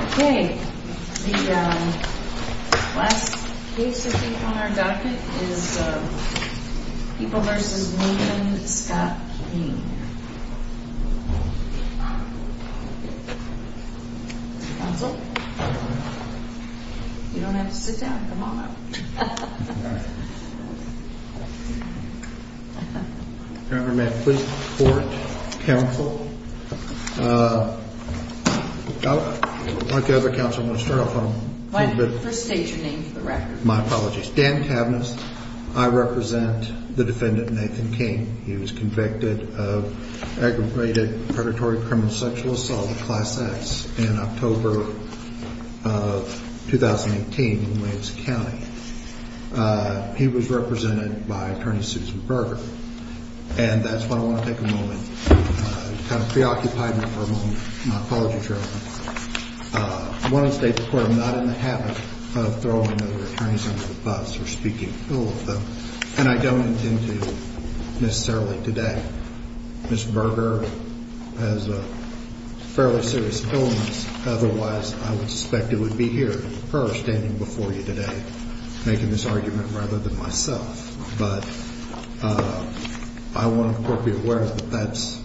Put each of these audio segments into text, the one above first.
Okay, the last case I think on our docket is People v. Lincoln Scott King Counsel? You don't have to sit down, come on up I represent the defendant Nathan King. He was convicted of aggravated predatory criminal sexual assault, Class X, in October of 2018 in Williams County. He was represented by Attorney Susan Berger. And that's why I want to take a moment to kind of preoccupy you for a moment. My apologies, Your Honor. I want to state the court is not in the habit of throwing other attorneys under the bus or speaking ill of them. And I don't intend to necessarily today. Ms. Berger has a fairly serious illness. Otherwise, I would suspect it would be her standing before you today making this argument rather than myself. But I want the court to be aware that that's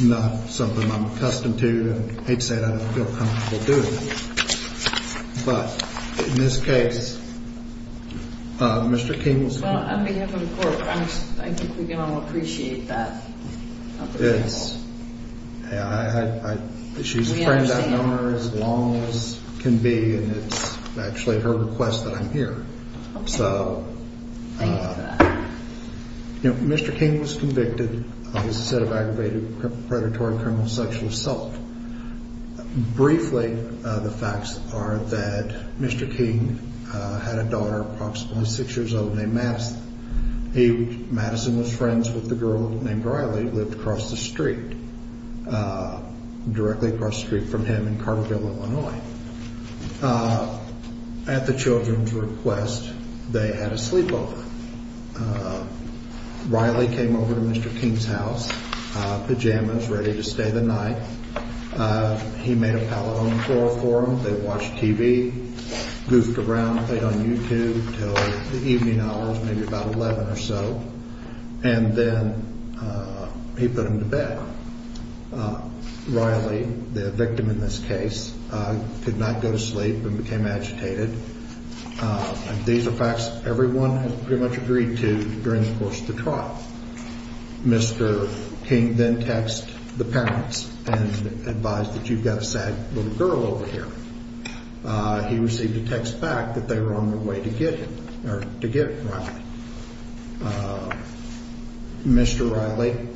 not something I'm accustomed to. And I hate to say it, I don't feel comfortable doing it. But in this case, Mr. King will speak. On behalf of the court, I think we can all appreciate that. Yes. She's a friend of ours as long as can be. And it's actually her request that I'm here. So Mr. King was convicted of a set of aggravated predatory criminal sexual assault. Briefly, the facts are that Mr. King had a daughter, approximately six years old, named Madison. Madison was friends with the girl named Riley, lived across the street, directly across the street from him in Carville, Illinois. At the children's request, they had a sleepover. Riley came over to Mr. King's house, pajamas ready to stay the night. He made a pallet on the floor for them. They watched TV, goofed around, played on YouTube till the evening hours, maybe about 11 or so. And then he put him to bed. Riley, the victim in this case, could not go to sleep and became agitated. These are facts everyone has pretty much agreed to during the course of the trial. Mr. King then text the parents and advised that you've got a sad little girl over here. He received a text back that they were on their way to get him or to get Riley. Mr. Riley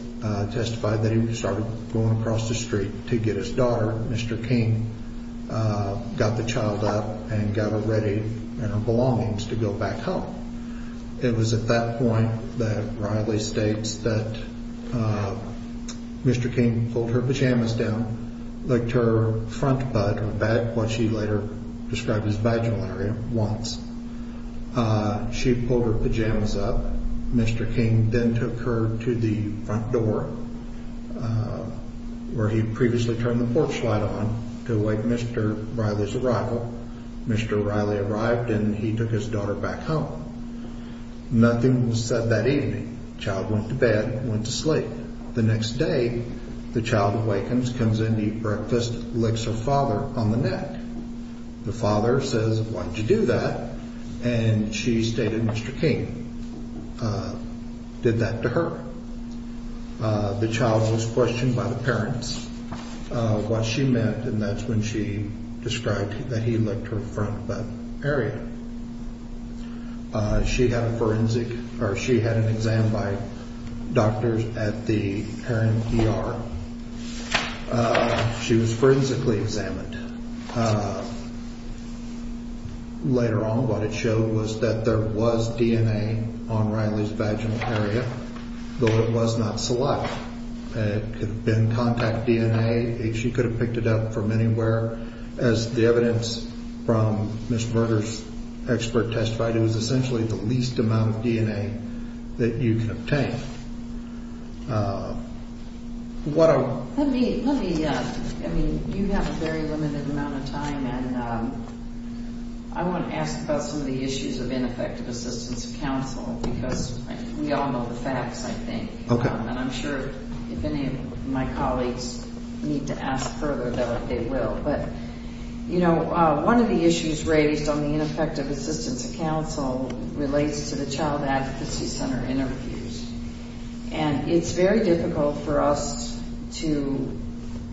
testified that he started going across the street to get his daughter. Mr. King got the child up and got her ready and her belongings to go back home. It was at that point that Riley states that Mr. King pulled her pajamas down, licked her front butt, what she later described as vaginal area, once. She pulled her pajamas up. Mr. King then took her to the front door where he previously turned the porch light on to await Mr. Riley's arrival. Mr. Riley arrived and he took his daughter back home. Nothing was said that evening. Child went to bed, went to sleep. The next day, the child awakens, comes in to eat breakfast, licks her father on the neck. The father says, why did you do that? And she stated Mr. King did that to her. The child was questioned by the parents. What she meant, and that's when she described that he licked her front butt area. She had a forensic or she had an exam by doctors at the parent ER. She was forensically examined. Later on, what it showed was that there was DNA on Riley's vaginal area, though it was not select. It could have been contact DNA. She could have picked it up from anywhere. As the evidence from Miss Berger's expert testified, it was essentially the least amount of DNA that you can obtain. Let me, I mean, you have a very limited amount of time and I want to ask about some of the issues of ineffective assistance of counsel because we all know the facts, I think. And I'm sure if any of my colleagues need to ask further about it, they will. But, you know, one of the issues raised on the ineffective assistance of counsel relates to the Child Advocacy Center interviews. And it's very difficult for us to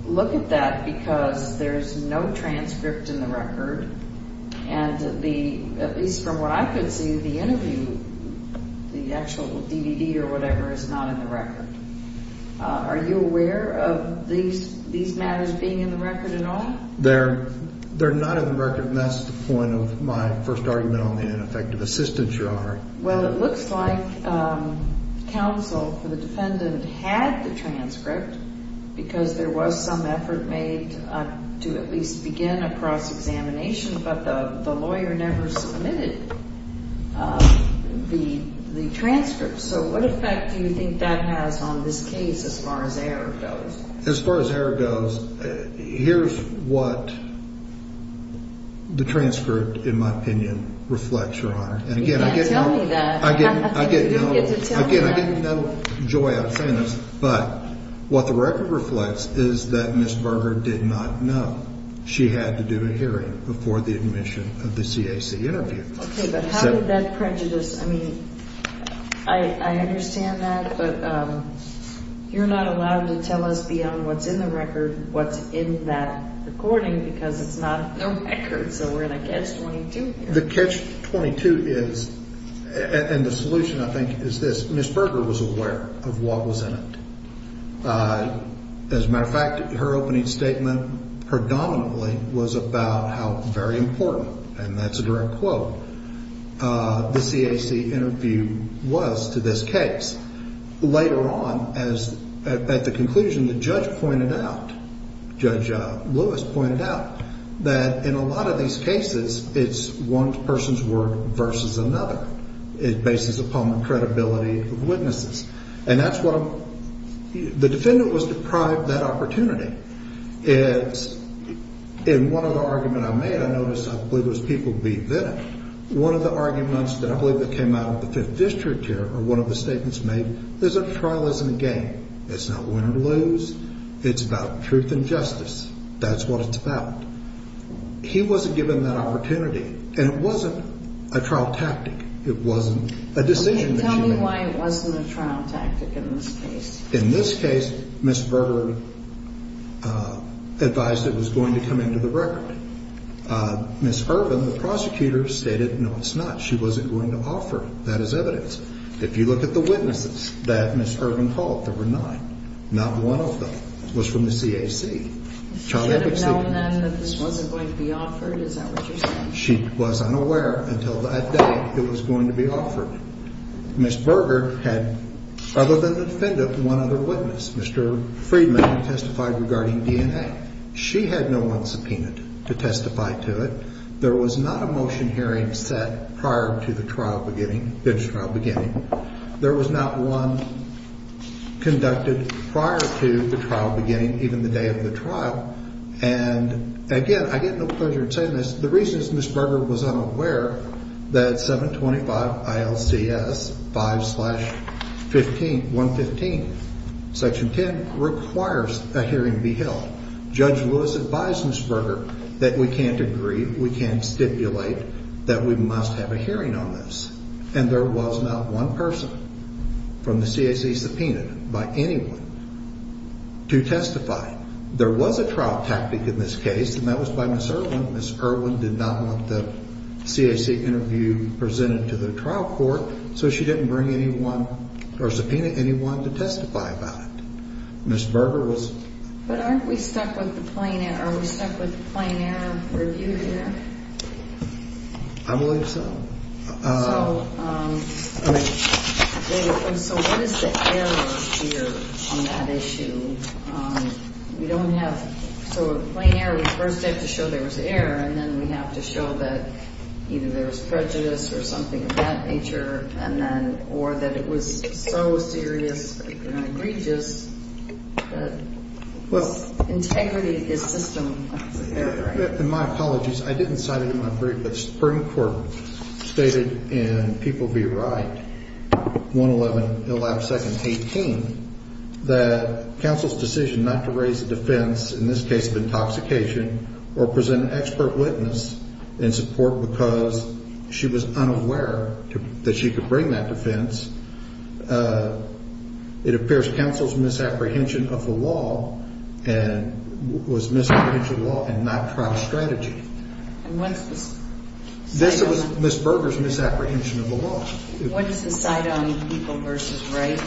look at that because there's no transcript in the record. And the, at least from what I could see, the interview, the actual DVD or whatever is not in the record. Are you aware of these matters being in the record at all? They're not in the record, and that's the point of my first argument on the ineffective assistance, Your Honor. Well, it looks like counsel for the defendant had the transcript because there was some effort made to at least begin a cross-examination, but the lawyer never submitted the transcript. So what effect do you think that has on this case as far as error goes? As far as error goes, here's what the transcript, in my opinion, reflects, Your Honor. You can't tell me that. Again, I get no joy out of saying this, but what the record reflects is that Ms. Berger did not know she had to do a hearing before the admission of the CAC interview. Okay, but how did that prejudice, I mean, I understand that, but you're not allowed to tell us beyond what's in the record what's in that recording because it's not in the record. So we're in a catch-22 here. The catch-22 is, and the solution, I think, is this. Ms. Berger was aware of what was in it. As a matter of fact, her opening statement predominantly was about how very important, and that's a direct quote, the CAC interview was to this case. Later on, at the conclusion, the judge pointed out, Judge Lewis pointed out, that in a lot of these cases, it's one person's word versus another. It bases upon the credibility of witnesses. The defendant was deprived that opportunity. In one of the arguments I made, I noticed I believe it was people beat then. One of the arguments that I believe that came out of the Fifth District here, or one of the statements made, is that a trial isn't a game. It's not win or lose. It's about truth and justice. That's what it's about. He wasn't given that opportunity, and it wasn't a trial tactic. It wasn't a decision that she made. Explain why it wasn't a trial tactic in this case. In this case, Ms. Berger advised it was going to come into the record. Ms. Ervin, the prosecutor, stated, no, it's not. She wasn't going to offer it. That is evidence. If you look at the witnesses that Ms. Ervin called, there were nine. Not one of them was from the CAC. She should have known then that this wasn't going to be offered? Is that what you're saying? She was unaware until that day it was going to be offered. Ms. Berger had, other than the defendant, one other witness. Mr. Friedman testified regarding DNA. She had no one subpoenaed to testify to it. There was not a motion hearing set prior to the trial beginning, bench trial beginning. There was not one conducted prior to the trial beginning, even the day of the trial. Again, I get no pleasure in saying this. The reason is Ms. Berger was unaware that 725 ILCS 5-115, Section 10, requires a hearing be held. Judge Lewis advised Ms. Berger that we can't agree, we can't stipulate, that we must have a hearing on this. There was not one person from the CAC subpoenaed by anyone to testify. There was a trial tactic in this case, and that was by Ms. Erwin. Ms. Erwin did not want the CAC interview presented to the trial court, so she didn't bring anyone or subpoena anyone to testify about it. Ms. Berger was- But aren't we stuck with the plain error? Are we stuck with the plain error review here? I believe so. So what is the error here on that issue? We don't have- so the plain error, we first have to show there was error, and then we have to show that either there was prejudice or something of that nature, and then- or that it was so serious and egregious that integrity is system error. In my apologies, I didn't cite it in my brief, but the Supreme Court stated in People v. Wright, 111-112-18, that counsel's decision not to raise a defense, in this case of intoxication, or present an expert witness in support because she was unaware that she could bring that defense, it appears counsel's misapprehension of the law and- was misapprehension of the law and not trial strategy. And what's the- This was Ms. Berger's misapprehension of the law. What is the cite on People v. Wright?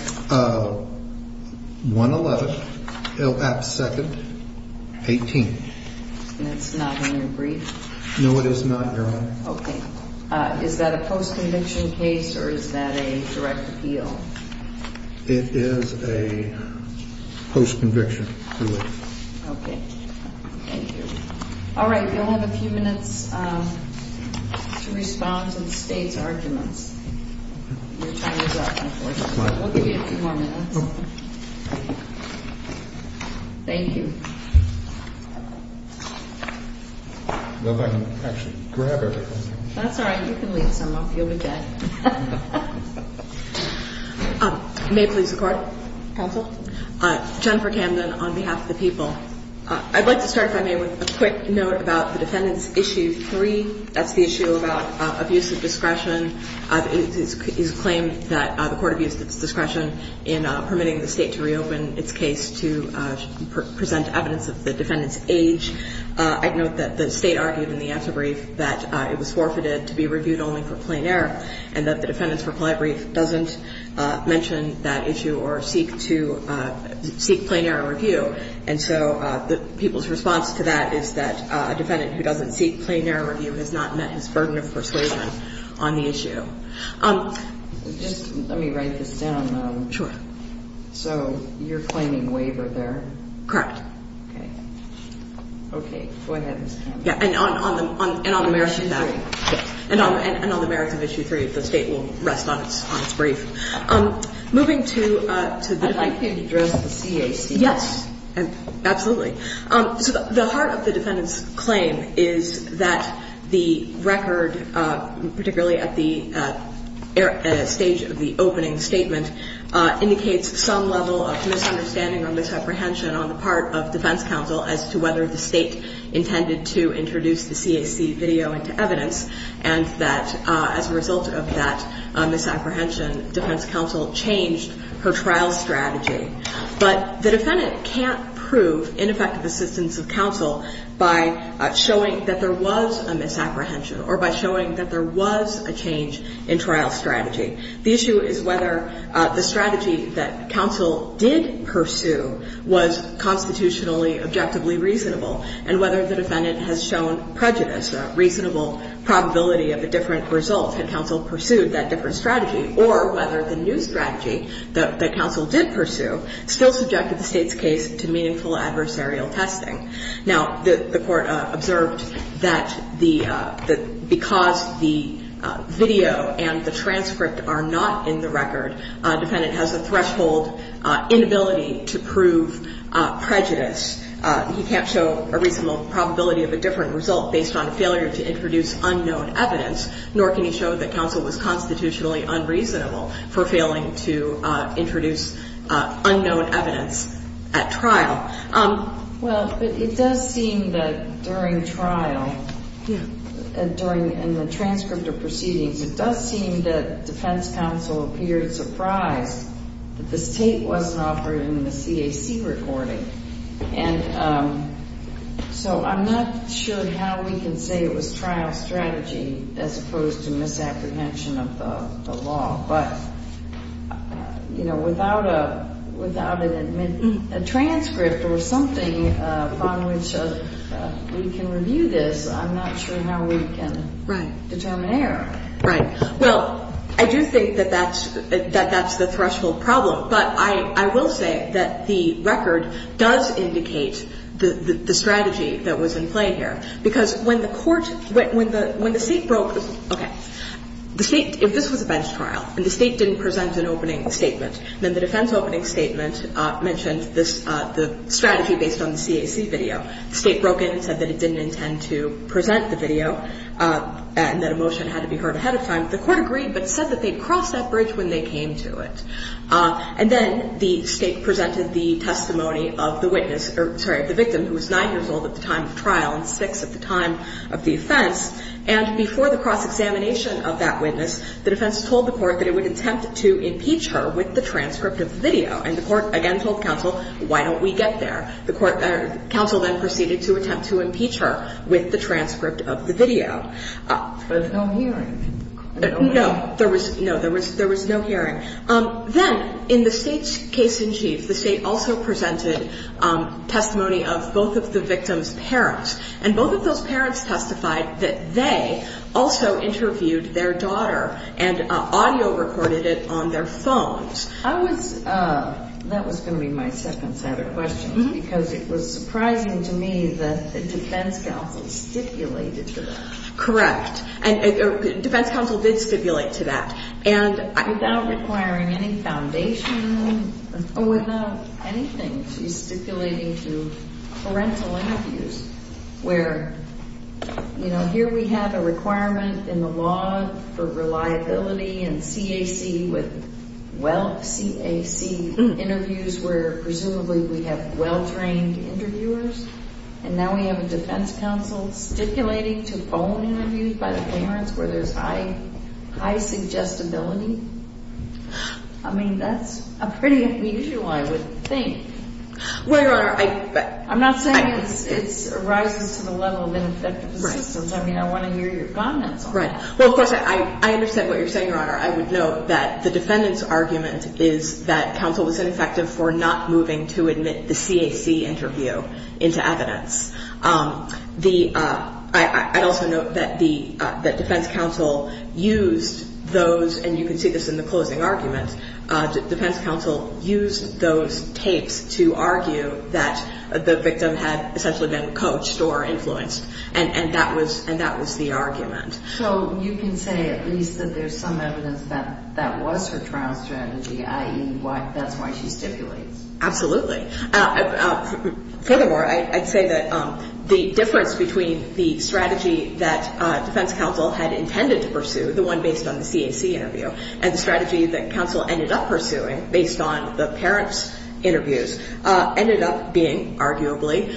111-2-18. And it's not in your brief? No, it is not, Your Honor. Okay. Is that a post-conviction case, or is that a direct appeal? It is a post-conviction. Okay. Thank you. All right, you'll have a few minutes to respond to the State's arguments. Your time is up, unfortunately. We'll give you a few more minutes. Thank you. Well, if I can actually grab everything. That's all right. You can leave some off. You'll be dead. May it please the Court. Counsel. Jennifer Camden on behalf of the People. I'd like to start, if I may, with a quick note about the defendant's Issue 3. That's the issue about abuse of discretion. It is claimed that the Court abused its discretion in permitting the State to reopen its case to present evidence. That's evidence of the defendant's age. I'd note that the State argued in the after-brief that it was forfeited to be reviewed only for plain error, and that the defendant's reply brief doesn't mention that issue or seek plain error review. And so the People's response to that is that a defendant who doesn't seek plain error review has not met his burden of persuasion on the issue. Just let me write this down. Sure. So you're claiming waiver there? Correct. Okay. Go ahead, Ms. Camden. And on the merits of that. Issue 3. And on the merits of Issue 3, if the State will rest on its brief. I'd like to address the CAC. Yes, absolutely. So the heart of the defendant's claim is that the record, particularly at the stage of the opening statement, indicates some level of misunderstanding or misapprehension on the part of defense counsel as to whether the State intended to introduce the CAC video into evidence, and that as a result of that misapprehension, defense counsel changed her trial strategy. But the defendant can't prove ineffective assistance of counsel by showing that there was a misapprehension or by showing that there was a change in trial strategy. The issue is whether the strategy that counsel did pursue was constitutionally, objectively reasonable, and whether the defendant has shown prejudice, a reasonable probability of a different result had counsel pursued that different strategy, or whether the new strategy that counsel did pursue still subjected the State's case to meaningful adversarial testing. Now, the Court observed that the — that because the video and the transcript are not in the record, defendant has a threshold inability to prove prejudice. He can't show a reasonable probability of a different result based on a failure to introduce unknown evidence, nor can he show that counsel was constitutionally unreasonable for failing to introduce unknown evidence at trial. Well, but it does seem that during trial, during the transcript of proceedings, it does seem that defense counsel appeared surprised that this tape wasn't offered in the CAC recording. And so I'm not sure how we can say it was trial strategy as opposed to misapprehension of the law. But, you know, without a — without a transcript or something upon which we can review this, I'm not sure how we can determine error. Right. Well, I do think that that's — that that's the threshold problem. But I will say that the record does indicate the strategy that was in play here, because when the Court — when the State broke — okay. The State — if this was a bench trial and the State didn't present an opening statement, then the defense opening statement mentioned this — the strategy based on the CAC video. The State broke in and said that it didn't intend to present the video and that a motion had to be heard ahead of time. The Court agreed but said that they'd cross that bridge when they came to it. And then the State presented the testimony of the witness — or, sorry, of the victim, who was 9 years old at the time of trial and 6 at the time of the offense. And before the cross-examination of that witness, the defense told the Court that it would attempt to impeach her with the transcript of the video. And the Court, again, told counsel, why don't we get there? The court — counsel then proceeded to attempt to impeach her with the transcript of the video. There was no hearing. No. There was — no. There was — there was no hearing. Then, in the State's case in chief, the State also presented testimony of both of the victim's parents. And both of those parents testified that they also interviewed their daughter and audio recorded it on their phones. I was — that was going to be my second set of questions because it was surprising to me that the defense counsel stipulated to that. Correct. And defense counsel did stipulate to that. Without requiring any foundation or without anything, she's stipulating to parental interviews where, you know, here we have a requirement in the law for reliability and CAC with — well, CAC interviews where, presumably, we have well-trained interviewers and now we have a defense counsel stipulating to phone interviews by the parents where there's high — high suggestibility. I mean, that's a pretty unusual, I would think. Well, Your Honor, I — I'm not saying it's rising to the level of ineffective assistance. I mean, I want to hear your comments on that. Right. Well, of course, I understand what you're saying, Your Honor. I would note that the defendant's argument is that counsel was ineffective for not moving to admit the CAC interview into evidence. The — I'd also note that the — that defense counsel used those — and you can see this in the closing argument. Defense counsel used those tapes to argue that the victim had essentially been coached or influenced. And that was — and that was the argument. So you can say at least that there's some evidence that that was her trial strategy, i.e., that's why she stipulates. Absolutely. Furthermore, I'd say that the difference between the strategy that defense counsel had intended to pursue, the one based on the CAC interview, and the strategy that counsel ended up pursuing based on the parents' interviews, ended up being arguably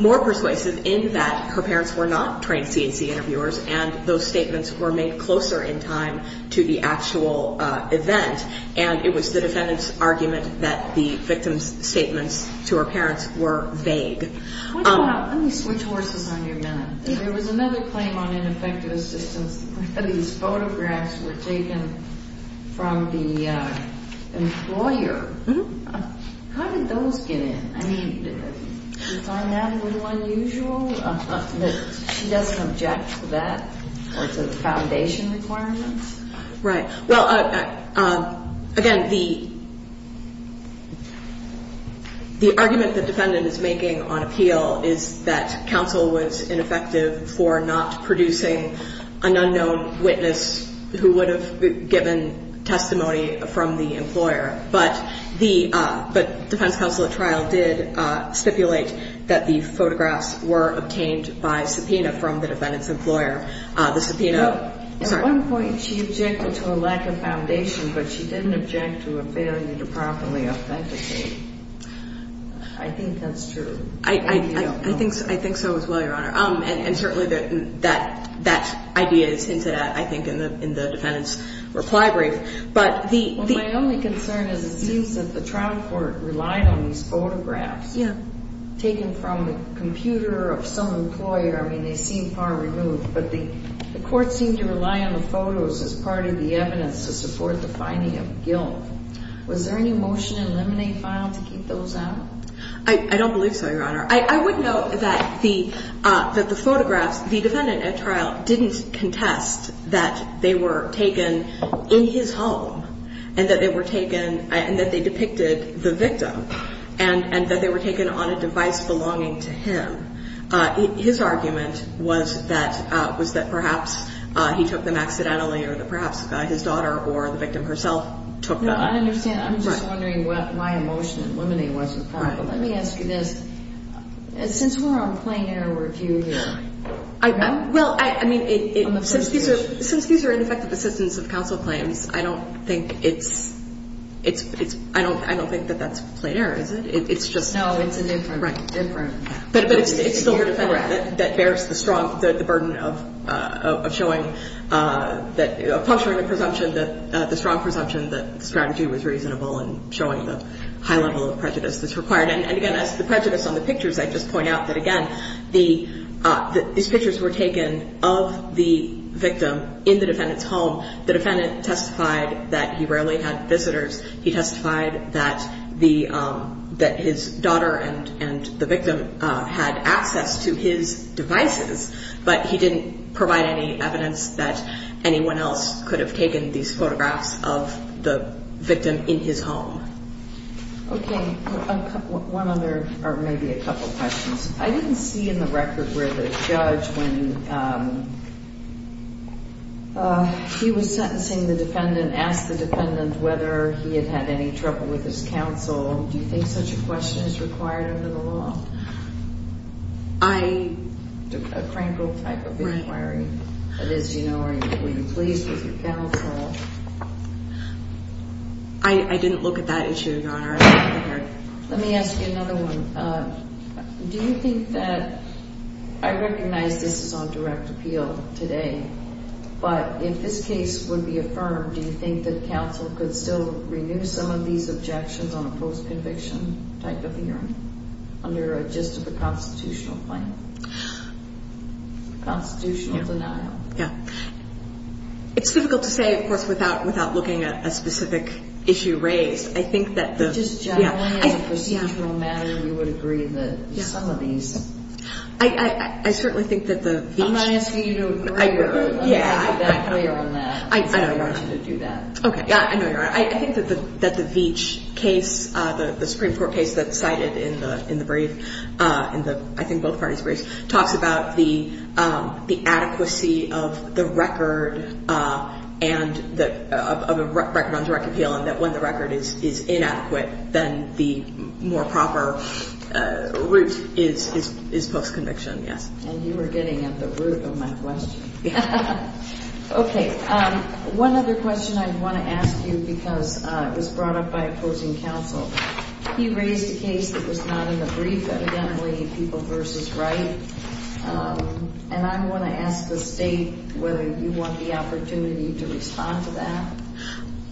more persuasive in that her parents were not trained CAC interviewers and those statements were made closer in time to the actual event. And it was the defendant's argument that the victim's statements to her parents were vague. Let me switch horses on you a minute. There was another claim on ineffective assistance. These photographs were taken from the employer. How did those get in? I mean, is our matter a little unusual that she doesn't object to that or to the foundation requirements? Right. Well, again, the argument the defendant is making on appeal is that counsel was ineffective for not producing an unknown witness who would have given testimony from the employer. But the defense counsel at trial did stipulate that the photographs were obtained by subpoena from the defendant's employer. The subpoena — But she didn't object to a failure to properly authenticate. I think that's true. I think so as well, Your Honor. And certainly that idea is hinted at, I think, in the defendant's reply brief. But the — Well, my only concern is it seems that the trial court relied on these photographs — Yeah. — taken from the computer of some employer. I mean, they seem far removed. But the court seemed to rely on the photos as part of the evidence to support the finding of guilt. Was there any motion in Lemonade file to keep those out? I don't believe so, Your Honor. I would note that the photographs — the defendant at trial didn't contest that they were taken in his home and that they were taken — and that they depicted the victim and that they were taken on a device belonging to him. His argument was that — was that perhaps he took them accidentally or that perhaps his daughter or the victim herself took them. No, I don't understand. I'm just wondering what my emotion in Lemonade was with that. Right. But let me ask you this. Since we're on a plain error review here — Well, I mean, it —— on the plaintiff's case. Since these are ineffective assistance of counsel claims, I don't think it's — I don't think that that's plain error, is it? It's just — No, it's a different — Right. But it's still the defendant that bears the strong — the burden of showing that — of puncturing the presumption that — the strong presumption that the strategy was reasonable and showing the high level of prejudice that's required. And, again, as to the prejudice on the pictures, I'd just point out that, again, these pictures were taken of the victim in the defendant's home. The defendant testified that he rarely had visitors. He testified that the — that his daughter and the victim had access to his devices, but he didn't provide any evidence that anyone else could have taken these photographs of the victim in his home. Okay. One other — or maybe a couple questions. I didn't see in the record where the judge, when he was sentencing the defendant, asked the defendant whether he had had any trouble with his counsel. Do you think such a question is required under the law? I — A cranky type of inquiry. Right. That is, you know, are you pleased with your counsel? I didn't look at that issue, Your Honor. Let me ask you another one. Do you think that — I recognize this is on direct appeal today, but if this case would be affirmed, do you think that counsel could still renew some of these objections on a post-conviction type of hearing under a gist of a constitutional claim, constitutional denial? Yeah. It's difficult to say, of course, without looking at a specific issue raised. I think that the — But just generally, as a procedural matter, you would agree that some of these — I certainly think that the — I'm not asking you to agree or agree that clear on that. I know, Your Honor. I don't want you to do that. Okay. Yeah, I know, Your Honor. I think that the Veitch case, the Supreme Court case that's cited in the brief, in the — I think both parties' briefs, talks about the adequacy of the record and the — of a record on direct appeal and that when the record is inadequate, then the more proper route is post-conviction, yes. And you are getting at the root of my question. Okay. One other question I want to ask you because it was brought up by opposing counsel. He raised a case that was not in the brief, evidently, People v. Wright, and I want to ask the State whether you want the opportunity to respond to that.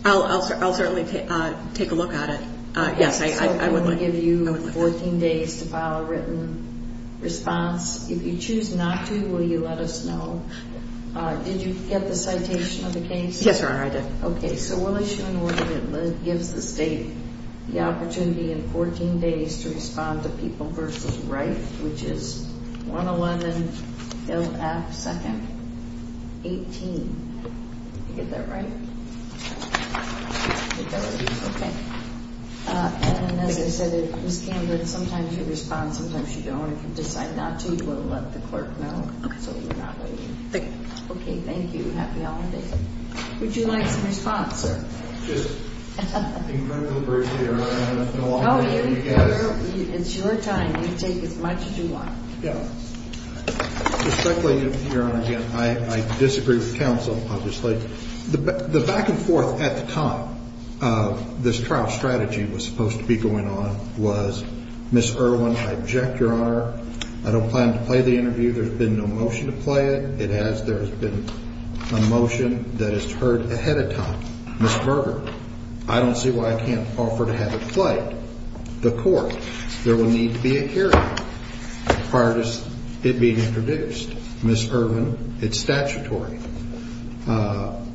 I'll certainly take a look at it. Yes, I would like — I will give you 14 days to file a written response. If you choose not to, will you let us know? Did you get the citation of the case? Yes, Your Honor, I did. Okay. So we'll issue an order that gives the State the opportunity in 14 days to respond to People v. Wright, which is 111 LF 2nd 18. Did I get that right? I think that was it. Okay. And as I said, Ms. Cambridge, sometimes you respond, sometimes you don't. If you decide not to, you will let the clerk know. Okay. So you're not waiting. Thank you. Okay, thank you. Happy holidays. Would you like some response? Just incredible brief, Your Honor. I don't know how many of you guys — No, it's your time. You take as much as you want. Yeah. Respectfully, Your Honor, again, I disagree with counsel, obviously. The back-and-forth at the time this trial strategy was supposed to be going on was, Ms. Irwin, I object, Your Honor. I don't plan to play the interview. There's been no motion to play it. It has. There has been a motion that is heard ahead of time. Ms. Berger, I don't see why I can't offer to have it played. The court, there will need to be a hearing prior to it being introduced. Ms. Irwin, it's statutory.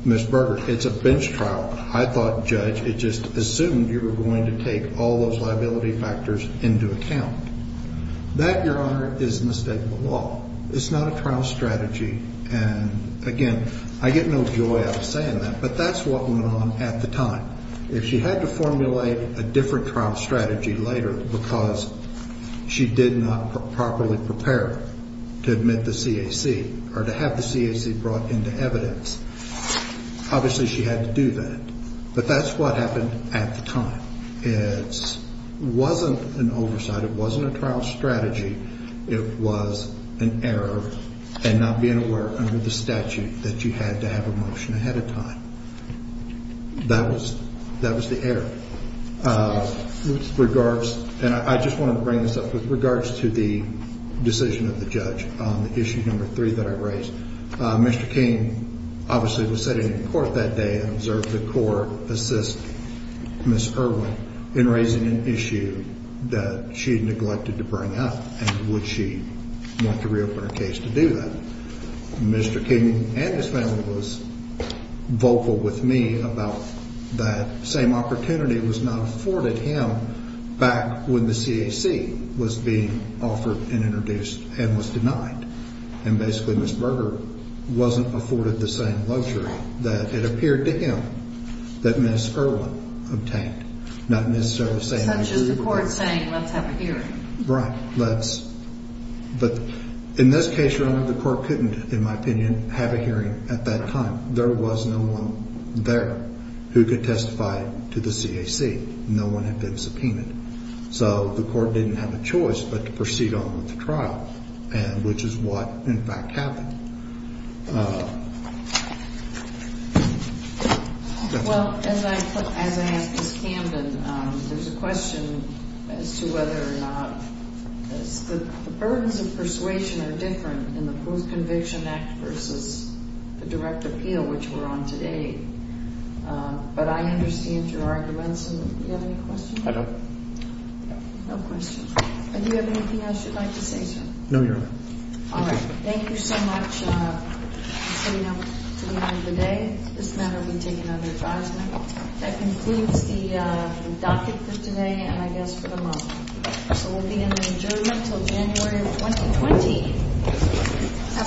Ms. Berger, it's a bench trial. I thought, Judge, it just assumed you were going to take all those liability factors into account. That, Your Honor, is the mistake of the law. It's not a trial strategy. And, again, I get no joy out of saying that, but that's what went on at the time. If she had to formulate a different trial strategy later because she did not properly prepare to admit the CAC or to have the CAC brought into evidence, obviously she had to do that. But that's what happened at the time. It wasn't an oversight. It wasn't a trial strategy. It was an error in not being aware under the statute that you had to have a motion ahead of time. That was the error. With regards, and I just wanted to bring this up, with regards to the decision of the judge on the issue number three that I raised, Mr. King obviously was sitting in court that day and observed the court assist Ms. Irwin in raising an issue that she had neglected to bring up. And would she want to reopen her case to do that? Mr. King and his family was vocal with me about that same opportunity was not afforded him back when the CAC was being offered and introduced and was denied. And basically Ms. Berger wasn't afforded the same luxury that it appeared to him that Ms. Irwin obtained. Not necessarily the same luxury. Such as the court saying, let's have a hearing. Right. But in this case, remember, the court couldn't, in my opinion, have a hearing at that time. There was no one there who could testify to the CAC. No one had been subpoenaed. So the court didn't have a choice but to proceed on with the trial, which is what in fact happened. Well, as I asked Ms. Camden, there's a question as to whether or not the burdens of persuasion are different in the Proof of Conviction Act versus the direct appeal, which we're on today. But I understand your arguments. Do you have any questions? I don't. No questions. Do you have anything else you'd like to say, sir? No, Your Honor. All right. Thank you so much for coming out to the end of the day. This matter will be taken under advisement. That concludes the docket for today and I guess for the month. So we'll be in adjournment until January of 2020.